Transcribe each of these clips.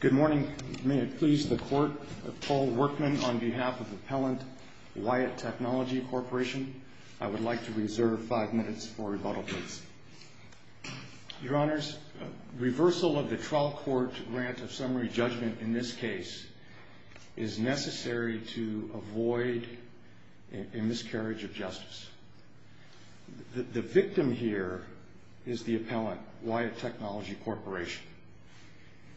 Good morning. May it please the court, Paul Workman on behalf of Appellant Wyatt Technology Corporation. I would like to reserve five minutes for rebuttal, please. Your Honors, reversal of the trial court grant of summary judgment in this case is necessary to avoid a miscarriage of justice. The victim here is the appellant, Wyatt Technology Corporation.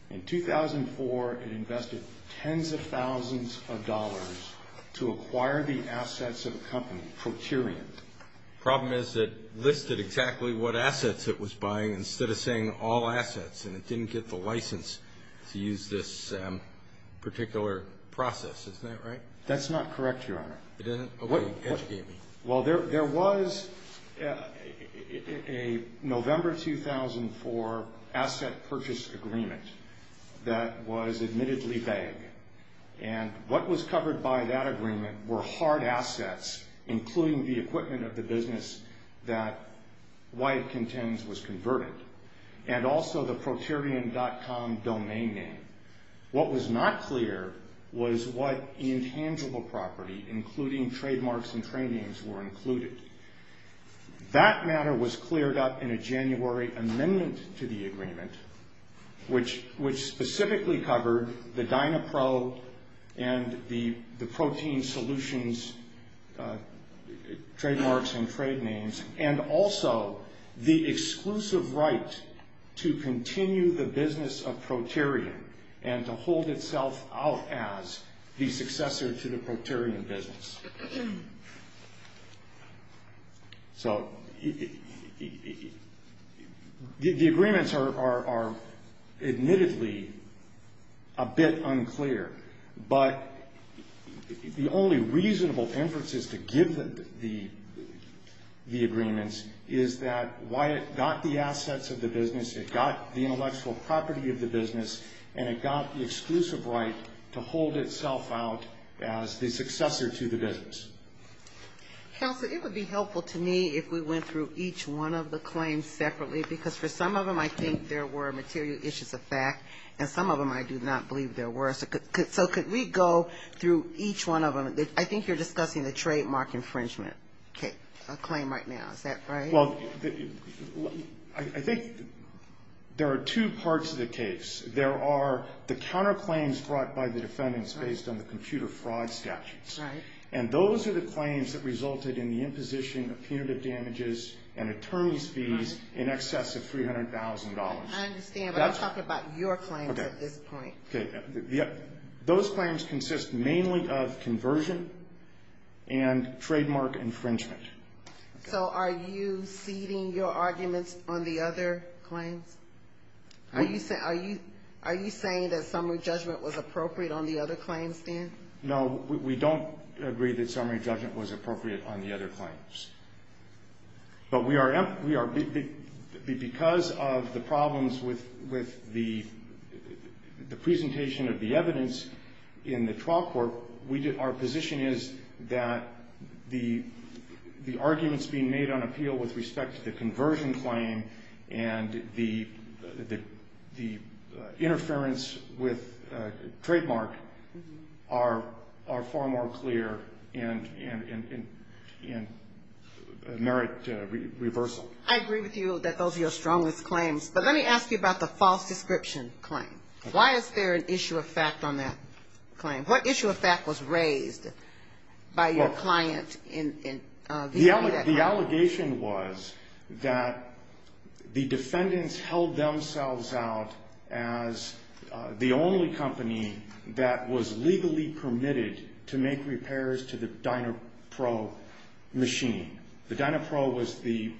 In 2004, it invested tens of thousands of dollars to acquire the assets of a company, Proterion. Problem is it listed exactly what assets it was buying instead of saying all assets, and it didn't get the license to use this particular process. Isn't that right? That's not correct, Your Honor. It isn't? OK, educate me. Well, there was a November 2004 asset purchase agreement that was admittedly vague. And what was covered by that agreement were hard assets, including the equipment of the business that Wyatt contends was converted, and also the Proterion.com domain name. What was not clear was what intangible property, including trademarks and trade names, were included. That matter was cleared up in a January amendment to the agreement, which specifically covered the Dynapro and the Protein Solutions trademarks and trade names, and also the exclusive right to continue the business of Proterion and to hold itself out as the successor to the Proterion business. So the agreements are admittedly a bit unclear, but the only reasonable inferences to give the agreements is that Wyatt got the assets of the business, it got the intellectual property of the business, and it got the exclusive right to hold itself out as the successor to the business. Counsel, it would be helpful to me if we went through each one of the claims separately, because for some of them I think there were material issues of fact, and some of them I do not believe there were. So could we go through each one of them? I think you're discussing the trademark infringement claim right now, is that right? Well, I think there are two parts of the case. There are the counterclaims brought by the defendants based on the computer fraud statutes. And those are the claims that resulted in the imposition of punitive damages and attorney's fees in excess of $300,000. I understand, but I'm talking about your claims at this point. Those claims consist mainly of conversion and trademark infringement. So are you ceding your arguments on the other claims? Are you saying that summary judgment was appropriate on the other claims then? No, we don't agree that summary judgment was appropriate on the other claims. But because of the problems with the presentation of the evidence in the trial court, our position is that the arguments being made on appeal with respect to the conversion claim and the interference with trademark are far more clear in merit reversal. I agree with you that those are your strongest claims. But let me ask you about the false description claim. Why is there an issue of fact on that claim? What issue of fact was raised by your client in that claim? The allegation was that the defendants held themselves out as the only company that was legally permitted to make repairs to the DynaPro machine. The DynaPro was the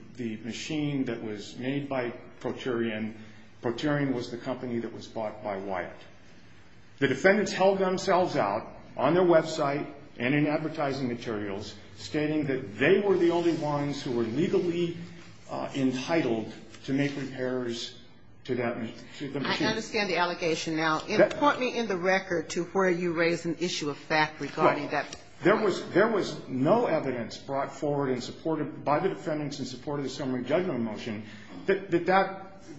machine that was made by Proterion. Proterion was the company that was bought by Wyatt. The defendants held themselves out on their website and in advertising materials stating that they were the only ones who were legally entitled to make repairs to that machine. I understand the allegation now. And put me in the record to where you raised an issue of fact regarding that. There was no evidence brought forward and supported by the defendants in support of the summary judgment motion that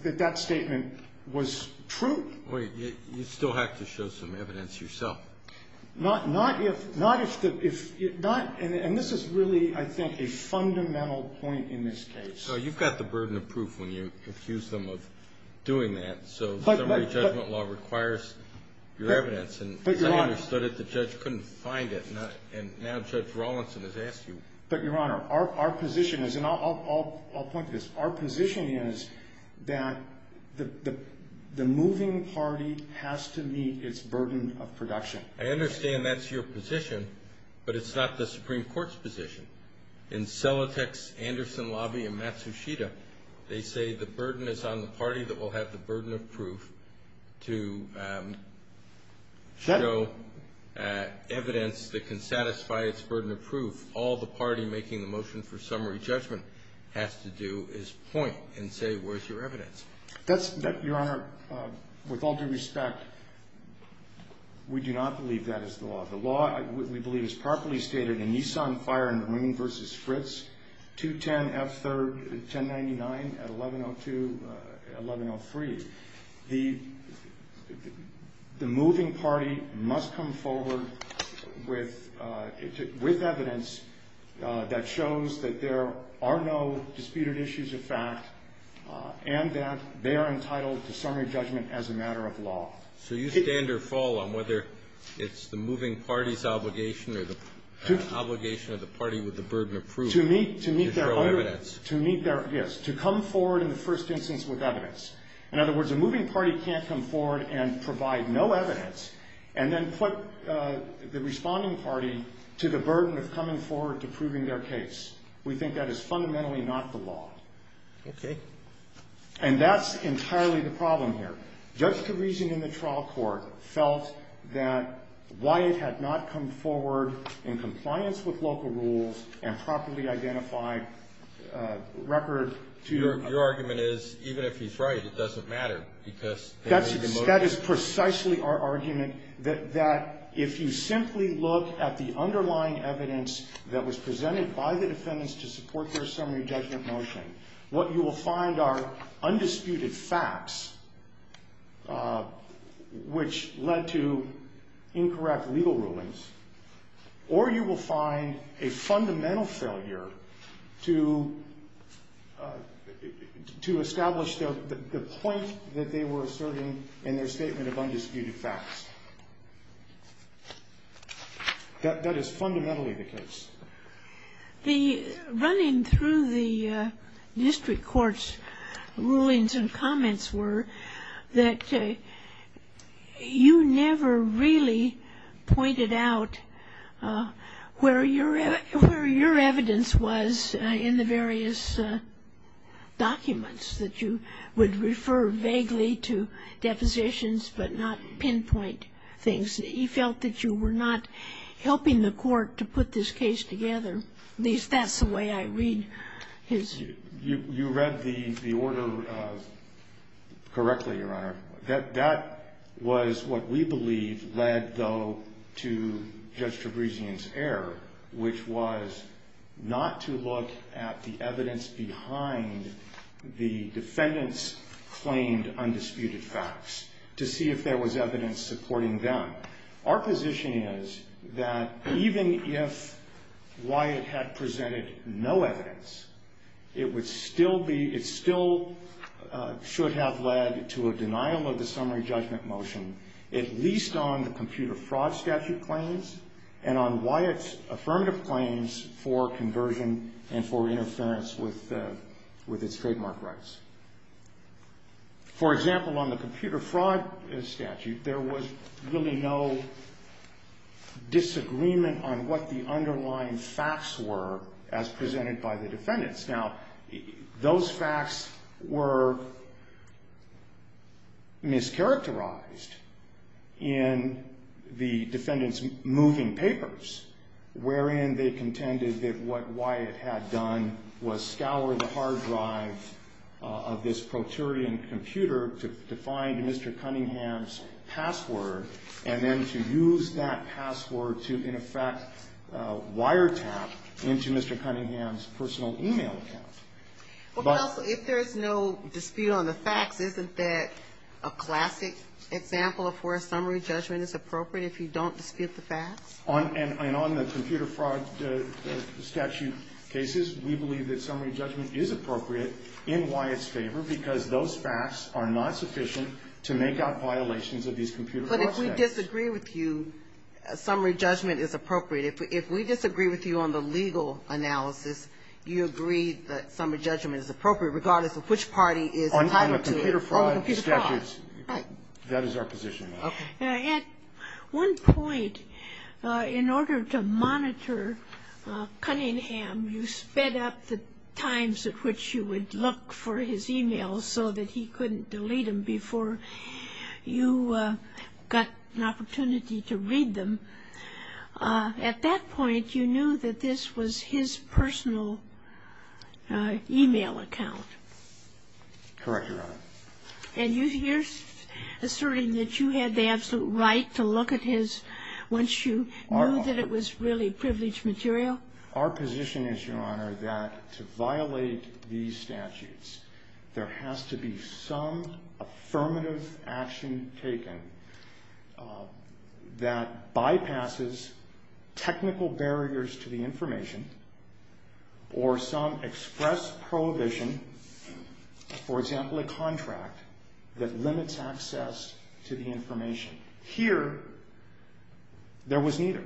that statement was true. Wait, you still have to show some evidence yourself. Not if the, if, not, and this is really, I think, a fundamental point in this case. So you've got the burden of proof when you accuse them of doing that. So summary judgment law requires your evidence. But Your Honor. And I understood it, the judge couldn't find it. And now Judge Rawlinson has asked you. But Your Honor, our position is, and I'll point to this. Our position is that the moving party has to meet its burden of production. I understand that's your position. But it's not the Supreme Court's position. In Celotex, Anderson Lobby, and Matsushita, they say the burden is on the party that will have the burden of proof to show evidence that can satisfy its burden of proof. All the party making the motion for summary judgment has to do is point and say, where's your evidence? That's, Your Honor, with all due respect, we do not believe that is the law. The law, we believe, is properly stated in Nissan Fire and Marine versus Fritz 210F3, 1099, 1102, 1103. The moving party must come forward with evidence that shows that there are no disputed issues of fact, and that they are entitled to summary judgment as a matter of law. So you stand or fall on whether it's the moving party's obligation or the obligation of the party with the burden of proof to show evidence? Yes, to come forward in the first instance with evidence. In other words, a moving party can't come forward and provide no evidence, and then put the responding party to the burden of coming forward to proving their case. We think that is fundamentally not the law. OK. And that's entirely the problem here. Just the reason in the trial court felt that Wyatt had not come forward in compliance with local rules and properly identified record to your argument is, even if he's right, it doesn't matter because they made the motion. That is precisely our argument, that if you simply look at the underlying evidence that the defendants to support their summary judgment motion, what you will find are undisputed facts, which led to incorrect legal rulings. Or you will find a fundamental failure to establish the point that they were asserting in their statement of undisputed facts. That is fundamentally the case. The running through the district court's rulings and comments were that you never really pointed out where your evidence was in the various documents that you would refer vaguely to depositions, but not pinpoint things. You felt that you were not helping the court to put this case together. At least that's the way I read his. You read the order correctly, Your Honor. That was what we believe led, though, to Judge Trebrizion's error, which was not to look at the evidence behind the defendants' claimed undisputed facts to see if there was evidence supporting them. Our position is that even if Wyatt had presented no evidence, it still should have led to a denial of the summary judgment motion, at least on the computer fraud statute claims and on Wyatt's affirmative claims for conversion and for interference with its trademark rights. For example, on the computer fraud statute, there was really no disagreement on what the underlying facts were as presented by the defendants. Now, those facts were mischaracterized in the defendants' moving papers, wherein they contended that what Wyatt had done was scour the hard drive of this pro-Turian computer to find Mr. Cunningham's password, and then to use that password to, in effect, wiretap into Mr. Cunningham's personal e-mail account. But also, if there's no dispute on the facts, isn't that a classic example of where summary judgment is appropriate if you don't dispute the facts? And on the computer fraud statute cases, we believe that summary judgment is appropriate in Wyatt's favor because those facts are not sufficient to make out violations of these computer fraud statutes. But if we disagree with you, summary judgment is appropriate. If we disagree with you on the legal analysis, you agree that summary judgment is appropriate, regardless of which party is entitled to it. On the computer fraud statutes, that is our position, ma'am. At one point, in order to monitor Cunningham, you sped up the times at which you would look for his e-mails so that he couldn't delete them before you got an opportunity to read them. At that point, you knew that this was his personal e-mail account. Correct, Your Honor. And you're asserting that you had the absolute right to look at his once you knew that it was really privileged material? Our position is, Your Honor, that to violate these statutes, there has to be some affirmative action taken that bypasses technical barriers to the information or some express prohibition, for example, a contract that limits access to the information. Here, there was neither.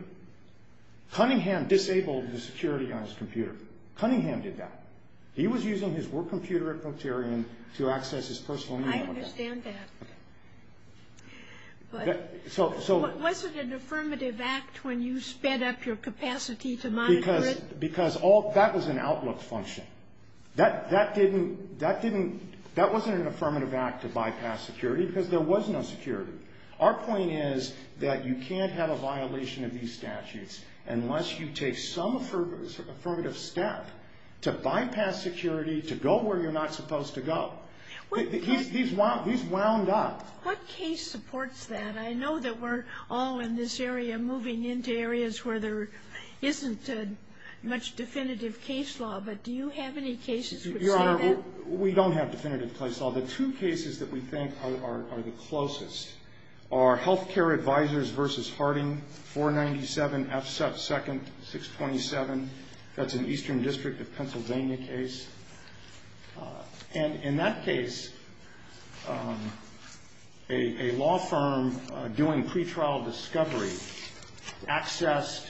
Cunningham disabled the security on his computer. Cunningham did that. He was using his work computer at Procterian to access his personal e-mail account. I understand that. Was it an affirmative act when you sped up your capacity to monitor it? Because that was an outlook function. That wasn't an affirmative act to bypass security, because there was no security. Our point is that you can't have a violation of these statutes unless you take some affirmative step to bypass security, to go where you're not supposed to go. He's wound up. What case supports that? I know that we're all in this area moving into areas where there isn't much definitive case law, but do you have any cases which say that? We don't have definitive case law. The two cases that we think are the closest are Health Care Advisors v. Harding, 497 F2nd 627. That's an Eastern District of Pennsylvania case. And in that case, a law firm doing pretrial discovery accessed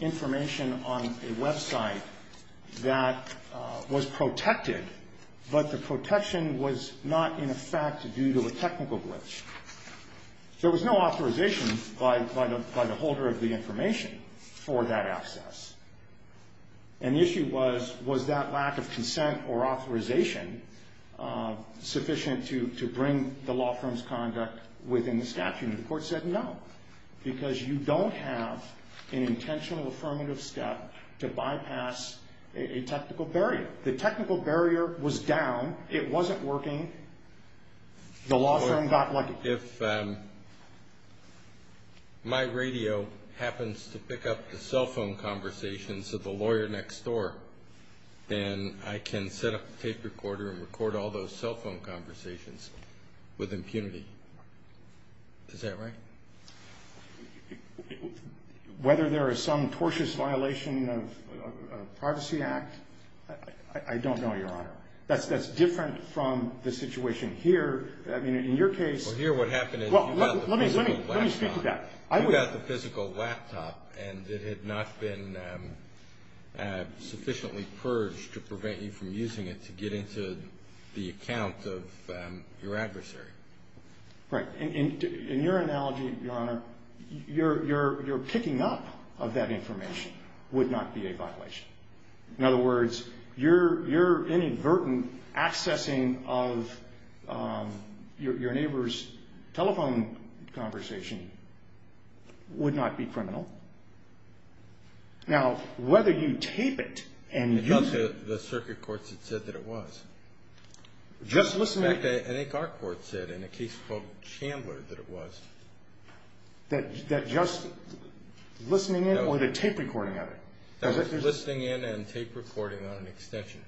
information on a website that was protected, but the protection was not in effect due to a technical glitch. There was no authorization by the holder of the information for that access. And the issue was, was that lack of consent or authorization sufficient to bring the law firm's conduct within the statute? And the court said no, because you don't have an intentional affirmative step to bypass a technical barrier. The technical barrier was down. It wasn't working. The law firm got lucky. If my radio happens to pick up the cell phone conversations of the lawyer next door, then I can set up a tape recorder and record all those cell phone conversations with impunity. Is that right? Whether there is some tortuous violation of a Privacy Act, I don't know, Your Honor. That's different from the situation here. I mean, in your case. Well, here what happened is you got the physical laptop. Let me speak to that. You got the physical laptop, and it had not been sufficiently purged to prevent you from using it to get into the account of your adversary. Right. In your analogy, Your Honor, your picking up of that information would not be a violation. In other words, your inadvertent accessing of your neighbor's telephone conversation would not be criminal. Now, whether you tape it and use it. The circuit courts had said that it was. Just listen to that. I think our court said in a case called Chandler that it was. That just listening in or the tape recording of it? That was listening in and tape recording on an extension.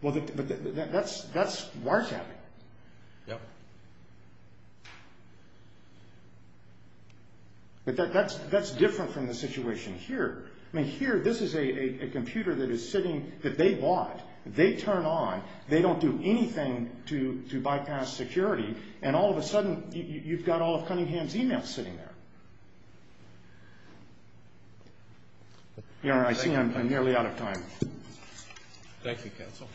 Well, that's wiretapping. Yeah. But that's different from the situation here. I mean, here this is a computer that is sitting, that they bought. They turn on. They don't do anything to bypass security. And all of a sudden, you've got all of Cunningham's emails sitting there. Your Honor, I see I'm nearly out of time. Thank you, counsel.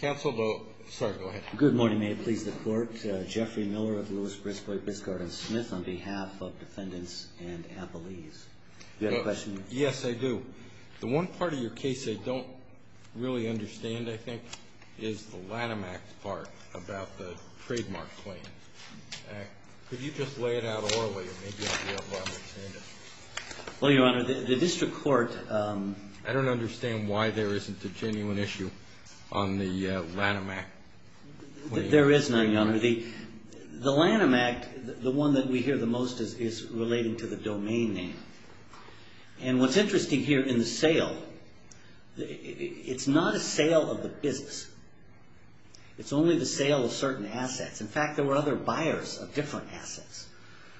Counsel, though. Sorry, go ahead. Good morning. May it please the court. Jeffrey Miller of Lewis, Briscoe, Biscard, and Smith on behalf of defendants and appellees. Do you have a question? Yes, I do. The one part of your case I don't really understand, I think, is the Lanham Act part about the trademark claim. Could you just lay it out orally, or maybe I'll be able to understand it. Well, Your Honor, the district court. I don't understand why there isn't a genuine issue on the Lanham Act. There is none, Your Honor. The Lanham Act, the one that we hear the most, is relating to the domain name. And what's interesting here in the sale, it's not a sale of the business. It's only the sale of certain assets. In fact, there were other buyers of different assets.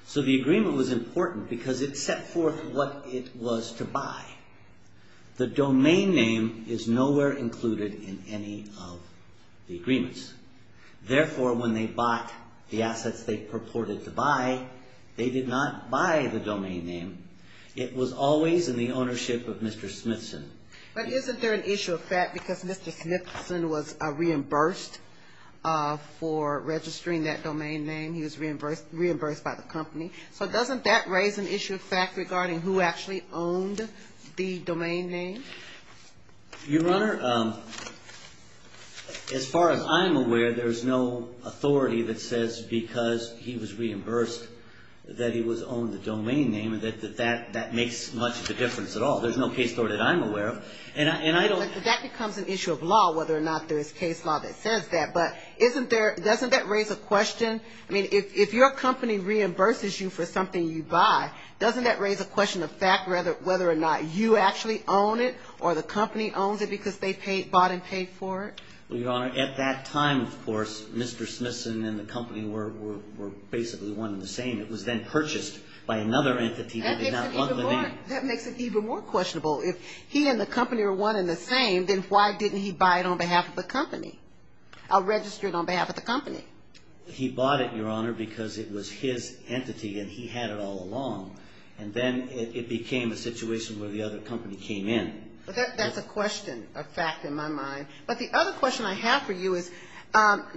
So the agreement was important because it set forth what it was to buy. The domain name is nowhere included in any of the agreements. Therefore, when they bought the assets they purported to buy, they did not buy the domain name. It was always in the ownership of Mr. Smithson. But isn't there an issue of fact because Mr. Smithson was reimbursed for registering that domain name? He was reimbursed by the company. So doesn't that raise an issue of fact regarding who actually owned the domain name? Your Honor, as far as I'm aware, there is no authority that says because he was reimbursed that he was owned the domain name and that that makes much of a difference at all. There's no case law that I'm aware of. And I don't. That becomes an issue of law, whether or not there is case law that says that. But doesn't that raise a question? I mean, if your company reimburses you for something you buy, doesn't that raise a question of fact whether or not you actually own it or the company owns it because they bought and paid for it? Well, Your Honor, at that time, of course, Mr. Smithson and the company were basically one and the same. It was then purchased by another entity that did not own the name. That makes it even more questionable. If he and the company are one and the same, then why didn't he buy it on behalf of the company? Or register it on behalf of the company? He bought it, Your Honor, because it was his entity and he had it all along. And then it became a situation where the other company came in. That's a question of fact in my mind. But the other question I have for you is,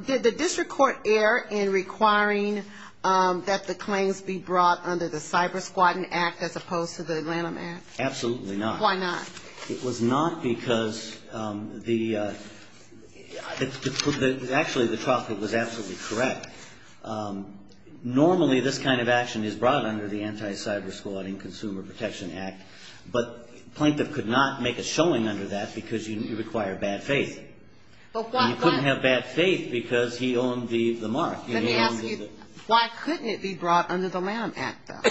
did the district court err in requiring that the claims be brought under the Cyber Squadron Act as opposed to the Atlanta Act? Absolutely not. Why not? It was not because the, actually, the traffic was absolutely correct. Normally, this kind of action is brought under the Anti-Cyber Squadron Consumer Protection Act. But Plaintiff could not make a showing under that because you require bad faith. And you couldn't have bad faith because he owned the mark. Let me ask you, why couldn't it be brought under the Lanham Act, though?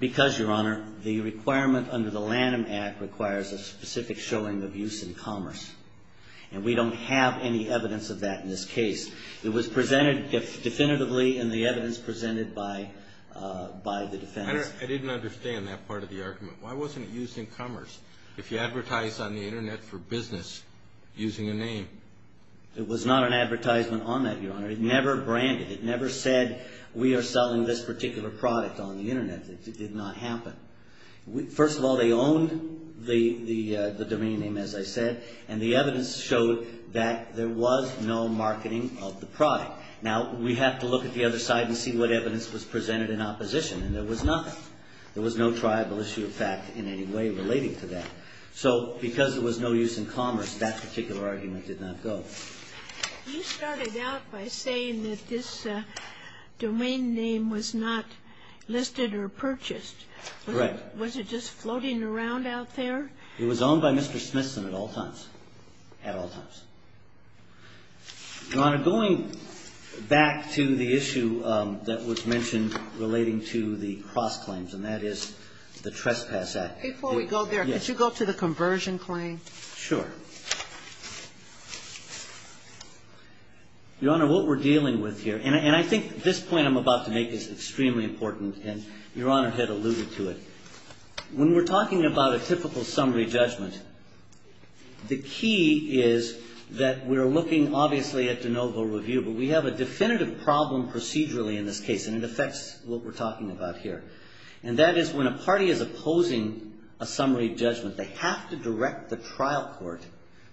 Because, Your Honor, the requirement under the Lanham Act requires a specific showing of use in commerce. And we don't have any evidence of that in this case. It was presented definitively in the evidence presented by the defense. I didn't understand that part of the argument. Why wasn't it used in commerce? If you advertise on the internet for business using a name? It was not an advertisement on that, Your Honor. It never branded. It never said, we are selling this particular product on the internet. It did not happen. First of all, they owned the domain name, as I said. And the evidence showed that there was no marketing of the product. Now, we have to look at the other side and see what evidence was presented in opposition. And there was nothing. There was no triable issue of fact in any way relating to that. So because there was no use in commerce, that particular argument did not go. You started out by saying that this domain name was not listed or purchased. Correct. Was it just floating around out there? It was owned by Mr. Smithson at all times, at all times. Your Honor, going back to the issue that was mentioned relating to the cross-claims, and that is the Trespass Act. Before we go there, could you go to the conversion claim? Sure. Your Honor, what we're dealing with here, and I think this point I'm about to make is extremely important, and Your Honor had alluded to it. When we're talking about a typical summary judgment, the key is that we're looking, obviously, at de novo review. But we have a definitive problem procedurally in this case, and it affects what we're talking about here. And that is when a party is opposing a summary judgment, they have to direct the trial court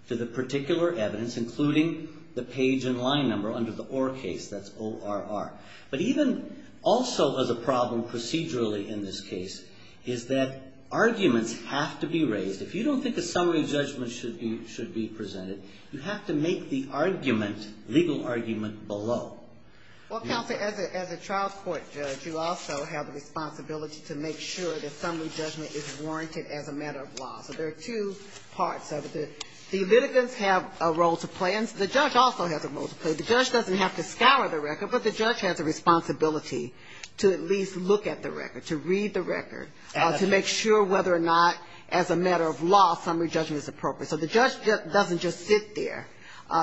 to the particular evidence, including the page and line number under the OR case. That's O-R-R. But even also as a problem procedurally in this case is that arguments have to be raised. If you don't think a summary judgment should be presented, you have to make the argument, legal argument, below. Well, counsel, as a trial court judge, you also have the responsibility to make sure that summary judgment is warranted as a matter of law. So there are two parts of it. The litigants have a role to play, and the judge also has a role to play. The judge doesn't have to scour the record, but the judge has a responsibility to at least look at the record, to read the record, to make sure whether or not, as a matter of law, summary judgment is appropriate. So the judge doesn't just sit there.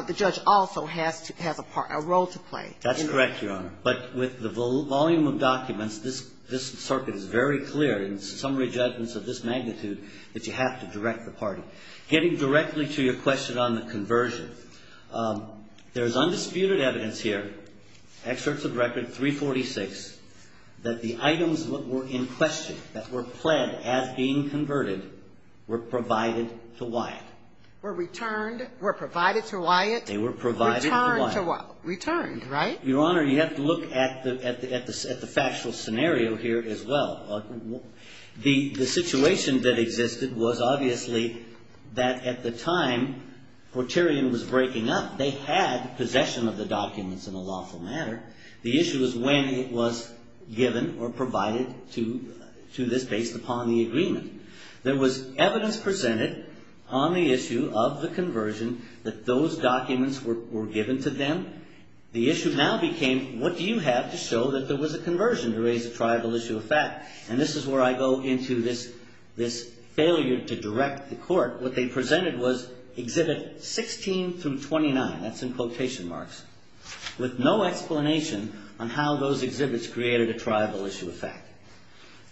The judge also has a part, a role to play. That's correct, Your Honor. But with the volume of documents, this circuit is very clear in summary judgments of this magnitude that you have to direct the party. Getting directly to your question on the conversion, there is undisputed evidence here, excerpts of record 346, that the items that were in question, that were pled as being converted, were provided to Wyatt. Were returned, were provided to Wyatt. They were provided to Wyatt. Returned, right? Your Honor, you have to look at the factual scenario here as well. The situation that existed was obviously that at the time Forterian was breaking up, they had possession of the documents in a lawful manner. The issue is when it was given or provided to this based upon the agreement. There was evidence presented on the issue of the conversion that those documents were given to them. The issue now became, what do you have to show that there was a conversion to raise a tribal issue of fact? And this is where I go into this failure to direct the court. What they presented was exhibit 16 through 29. That's in quotation marks. With no explanation on how those exhibits created a tribal issue of fact.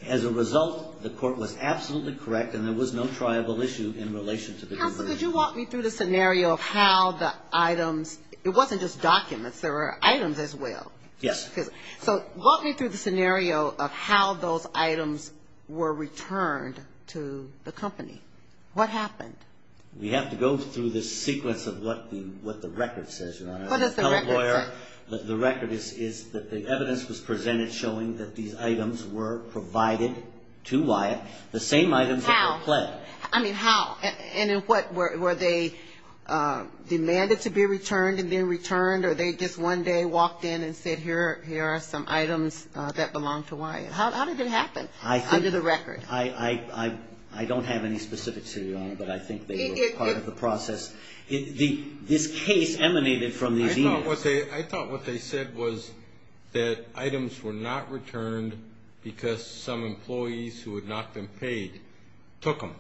As a result, the court was absolutely correct and there was no tribal issue in relation to the conversion. Counsel, could you walk me through the scenario of how the items, it wasn't just documents, there were items as well. Yes. So walk me through the scenario of how those items were returned to the company. What happened? We have to go through the sequence of what the record says, Your Honor. What does the record say? The record is that the evidence was presented showing that these items were provided to Wyatt, the same items that were pled. I mean, how? And were they demanded to be returned and then returned? Or they just one day walked in and said, here are some items that belong to Wyatt? How did it happen under the record? I don't have any specifics here, Your Honor, but I think they were part of the process. This case emanated from these emails. I thought what they said was that items were not returned because some employees who had not been paid took them.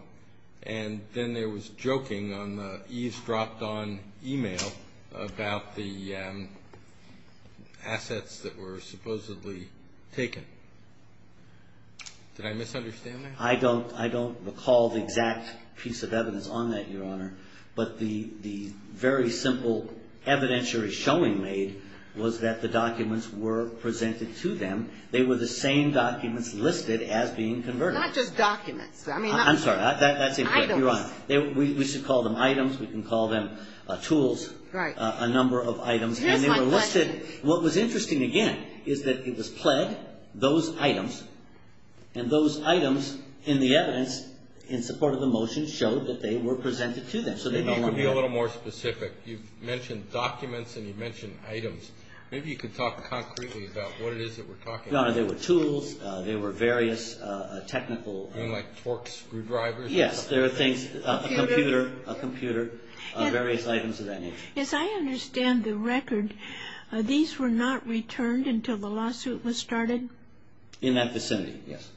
And then there was joking on the eaves dropped on email about the assets that were supposedly taken. Did I misunderstand that? I don't recall the exact piece of evidence on that, Your Honor. But the very simple evidentiary showing made was that the documents were presented to them. They were the same documents listed as being converted. Not just documents. I'm sorry, that's incorrect, Your Honor. We should call them items. We can call them tools, a number of items. And they were listed. What was interesting, again, is that it was pled those items. And those items in the evidence in support of the motion showed that they were presented to them. So they belong to them. Maybe you could be a little more specific. You've mentioned documents, and you've mentioned items. Maybe you could talk concretely about what it is that we're talking about. Your Honor, they were tools. They were various technical. You mean like Torx screwdrivers? Yes, there were things, a computer, various items of that nature. As I understand the record, these were not returned until the lawsuit was started? In that vicinity, yes.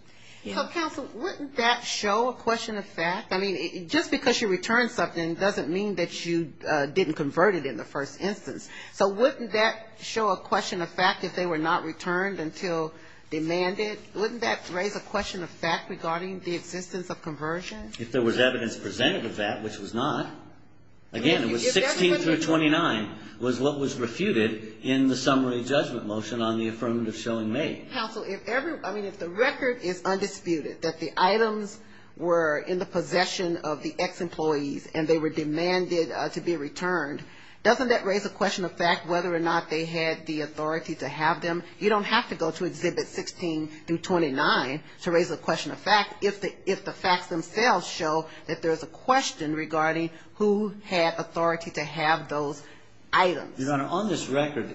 So counsel, wouldn't that show a question of fact? I mean, just because you return something doesn't mean that you didn't convert it in the first instance. So wouldn't that show a question of fact if they were not returned until demanded? Wouldn't that raise a question of fact regarding the existence of conversion? If there was evidence presented of that, which was not. Again, it was 16 through 29 was what was refuted in the summary judgment motion on the affirmative showing made. Counsel, if the record is undisputed that the items were in the possession of the ex-employees and they were demanded to be returned, doesn't that raise a question of fact whether or not they had the authority to have them? You don't have to go to exhibit 16 through 29 to raise a question of fact if the facts themselves show that there is a question regarding who had authority to have those items. On this record,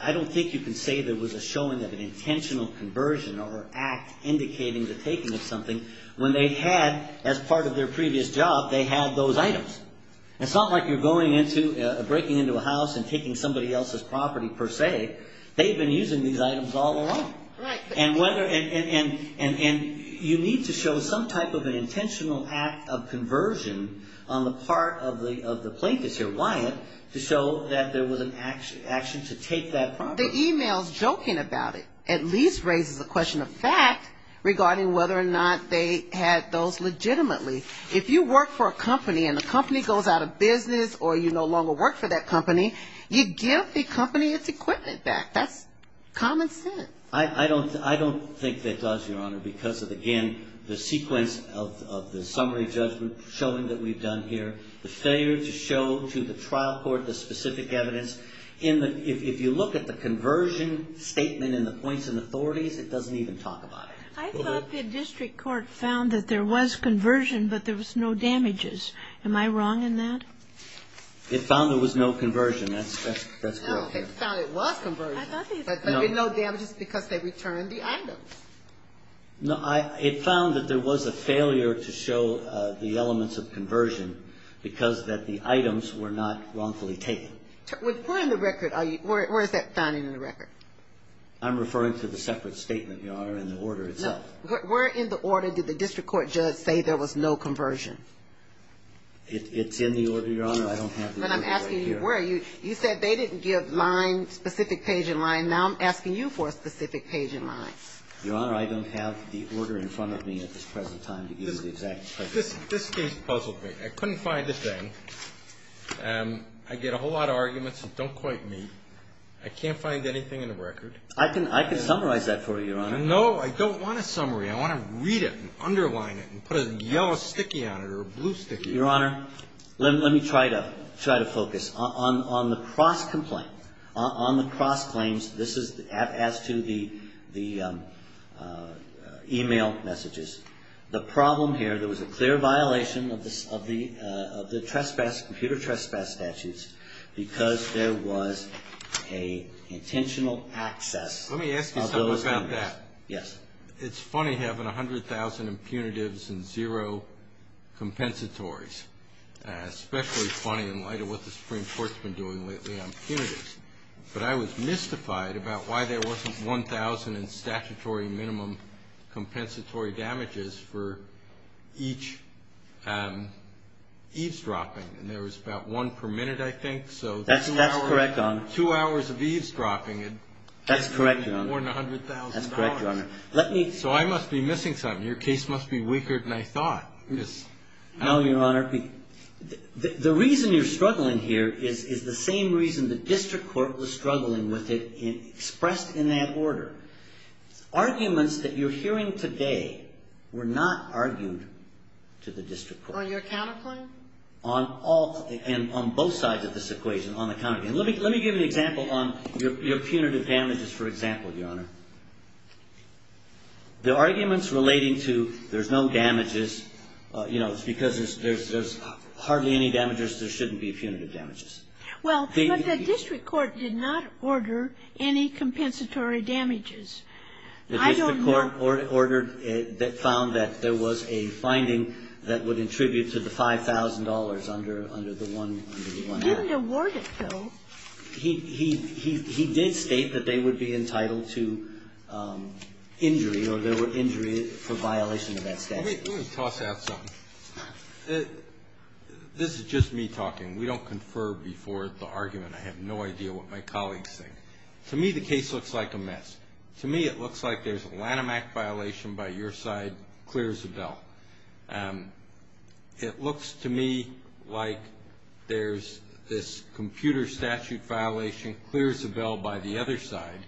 I don't think you can say there was a showing of an intentional conversion or act indicating the taking of something when they had, as part of their previous job, they had those items. It's not like you're breaking into a house and taking somebody else's property, per se. They've been using these items all along. And you need to show some type of an intentional act of conversion on the part of the plaintiffs here, Wyatt, to show that there was an action to take that property. The emails joking about it at least raises a question of fact regarding whether or not they had those legitimately. If you work for a company and the company goes out of business or you no longer work for that company, you give the company its equipment back. That's common sense. I don't think that does, Your Honor, because of, again, the sequence of the summary judgment showing that we've done here. The failure to show to the trial court the specific evidence. If you look at the conversion statement in the points and authorities, it doesn't even talk about it. I thought the district court found that there was conversion, but there was no damages. Am I wrong in that? It found there was no conversion. That's correct, Your Honor. No, it found it was conversion. I thought they said there was no damages because they returned the items. It found that there was a failure to show the elements of conversion because that the items were not wrongfully taken. With putting the record, where is that finding in the record? I'm referring to the separate statement, Your Honor, and the order itself. Where in the order did the district court judge say there was no conversion? It's in the order, Your Honor. I don't have the order right here. But I'm asking you where. You said they didn't give line, specific page and line. Now I'm asking you for a specific page and line. Your Honor, I don't have the order in front of me at this present time to give you the exact page. This case puzzled me. I couldn't find the thing. I get a whole lot of arguments that don't quite meet. I can't find anything in the record. I can summarize that for you, Your Honor. No, I don't want a summary. I want to read it and underline it and put a yellow sticky on it or a blue sticky on it. Your Honor, let me try to focus on the cross complaint, on the cross claims. This is as to the email messages. The problem here, there was a clear violation of the computer trespass statutes because there was a intentional access of those. Let me ask you something about that. Yes. It's funny having 100,000 impunitives and zero compensatories. Especially funny in light of what the Supreme Court's doing lately on punitives. But I was mystified about why there wasn't 1,000 in statutory minimum compensatory damages for each eavesdropping. And there was about one per minute, I think. That's correct, Your Honor. Two hours of eavesdropping and more than $100,000. That's correct, Your Honor. So I must be missing something. Your case must be weaker than I thought. No, Your Honor. The reason you're struggling here is the same reason the district court was struggling with it expressed in that order. Arguments that you're hearing today were not argued to the district court. On your counterpoint? On both sides of this equation, on the counterpoint. Let me give an example on your punitive damages, for example, Your Honor. The arguments relating to there's no damages, because there's hardly any damages, there shouldn't be punitive damages. Well, but the district court did not order any compensatory damages. I don't know. The district court ordered that found that there was a finding that would attribute to the $5,000 under the one act. He didn't award it, though. He did state that they would be entitled to injury, or there were injuries for violation of that statute. Let me toss out something. This is just me talking. We don't confer before the argument. I have no idea what my colleagues think. To me, the case looks like a mess. To me, it looks like there's a Lanham Act violation by your side, clears the bell. It looks to me like there's this computer statute violation, clears the bell by the other side,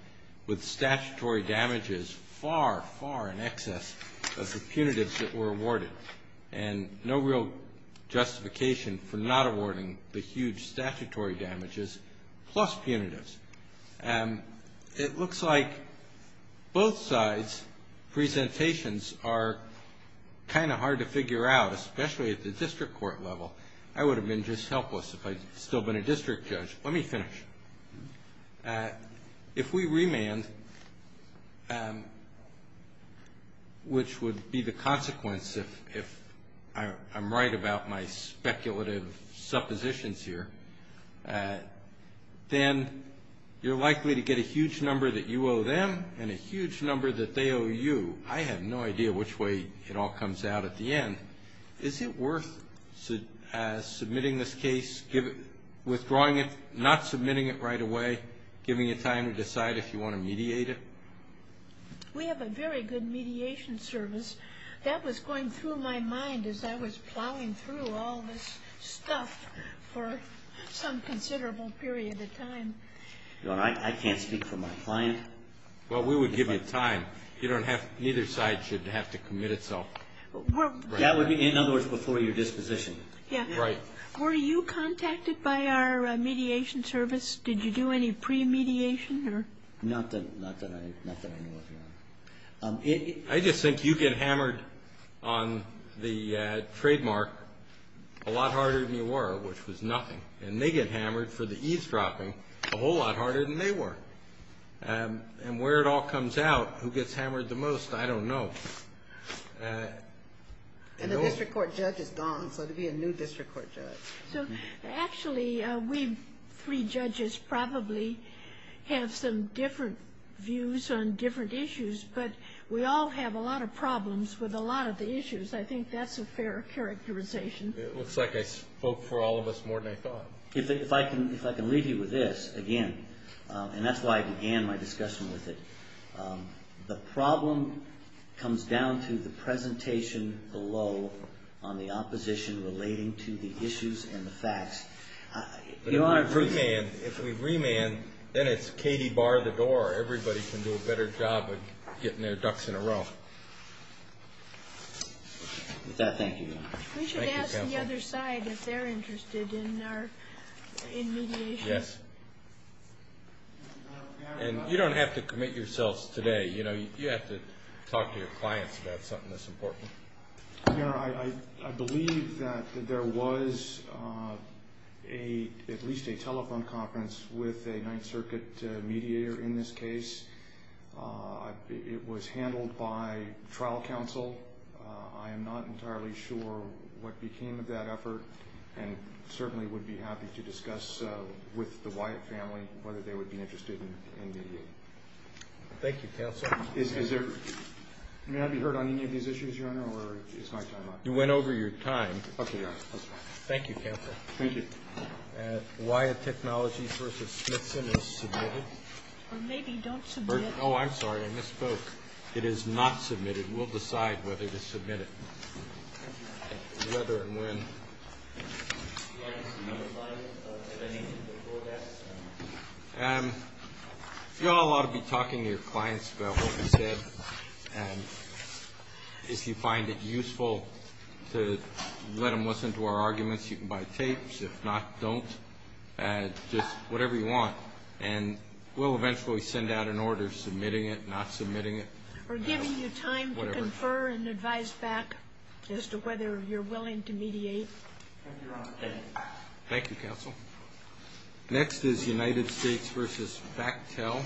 with statutory damages far, far in excess of the punitives that were awarded. And no real justification for not awarding the huge statutory damages plus punitives. It looks like both sides' presentations are kind of hard to figure out, especially at the district court level. I would have been just helpless if I'd still been a district judge. Let me finish. If we remand, which would be the consequence if I'm right about my speculative suppositions here, then you're likely to get a huge number that you owe them and a huge number that they owe you. I have no idea which way it all comes out at the end. Is it worth submitting this case, withdrawing it, not submitting it right away, giving you time to decide if you want to mediate it? We have a very good mediation service. That was going through my mind as I was plowing through all this stuff for some considerable period of time. I can't speak for my client. Well, we would give you time. Neither side should have to commit itself. That would be, in other words, before your disposition. Yeah. Were you contacted by our mediation service? Did you do any pre-mediation? Not that I know of, no. I just think you get hammered on the trademark a lot harder than you were, which was nothing. And they get hammered for the eavesdropping a whole lot harder than they were. And where it all comes out, who gets hammered the most, I don't know. And the district court judge is gone, so it would be a new district court judge. So actually, we three judges probably have some different views on different issues, but we all have a lot of problems with a lot of the issues. I think that's a fair characterization. It looks like I spoke for all of us more than I thought. If I can leave you with this, again, and that's why I began my discussion with it, the problem comes down to the presentation below on the opposition relating to the issues and the facts. If we remand, then it's Katie, bar the door. Everybody can do a better job of getting their ducks in a row. With that, thank you, Your Honor. Thank you, counsel. We should ask the other side if they're interested in mediation. Yes. And you don't have to commit yourselves today. You have to talk to your clients about something that's important. Your Honor, I believe that there was at least a telephone conference with a Ninth Circuit mediator in this case. It was handled by trial counsel. I am not entirely sure what became of that effort, and certainly would be happy to discuss with the Wyatt family whether they would be interested in mediating. Thank you, counsel. May I be heard on any of these issues, Your Honor, or is my time up? You went over your time. OK, Your Honor. Thank you, counsel. Thank you. Wyatt Technologies versus Smithson is submitted. Or maybe don't submit it. Oh, I'm sorry. I misspoke. It is not submitted. We'll decide whether to submit it, whether and when. Do you want to signify anything before that? If you all ought to be talking to your clients about what we said, and if you find it useful to let them listen to our arguments, you can buy tapes. If not, don't. Just whatever you want. And we'll eventually send out an order submitting it, not submitting it. Or giving you time to confer and advise back as to whether you're willing to mediate. Thank you, counsel. Next is United States versus Factel.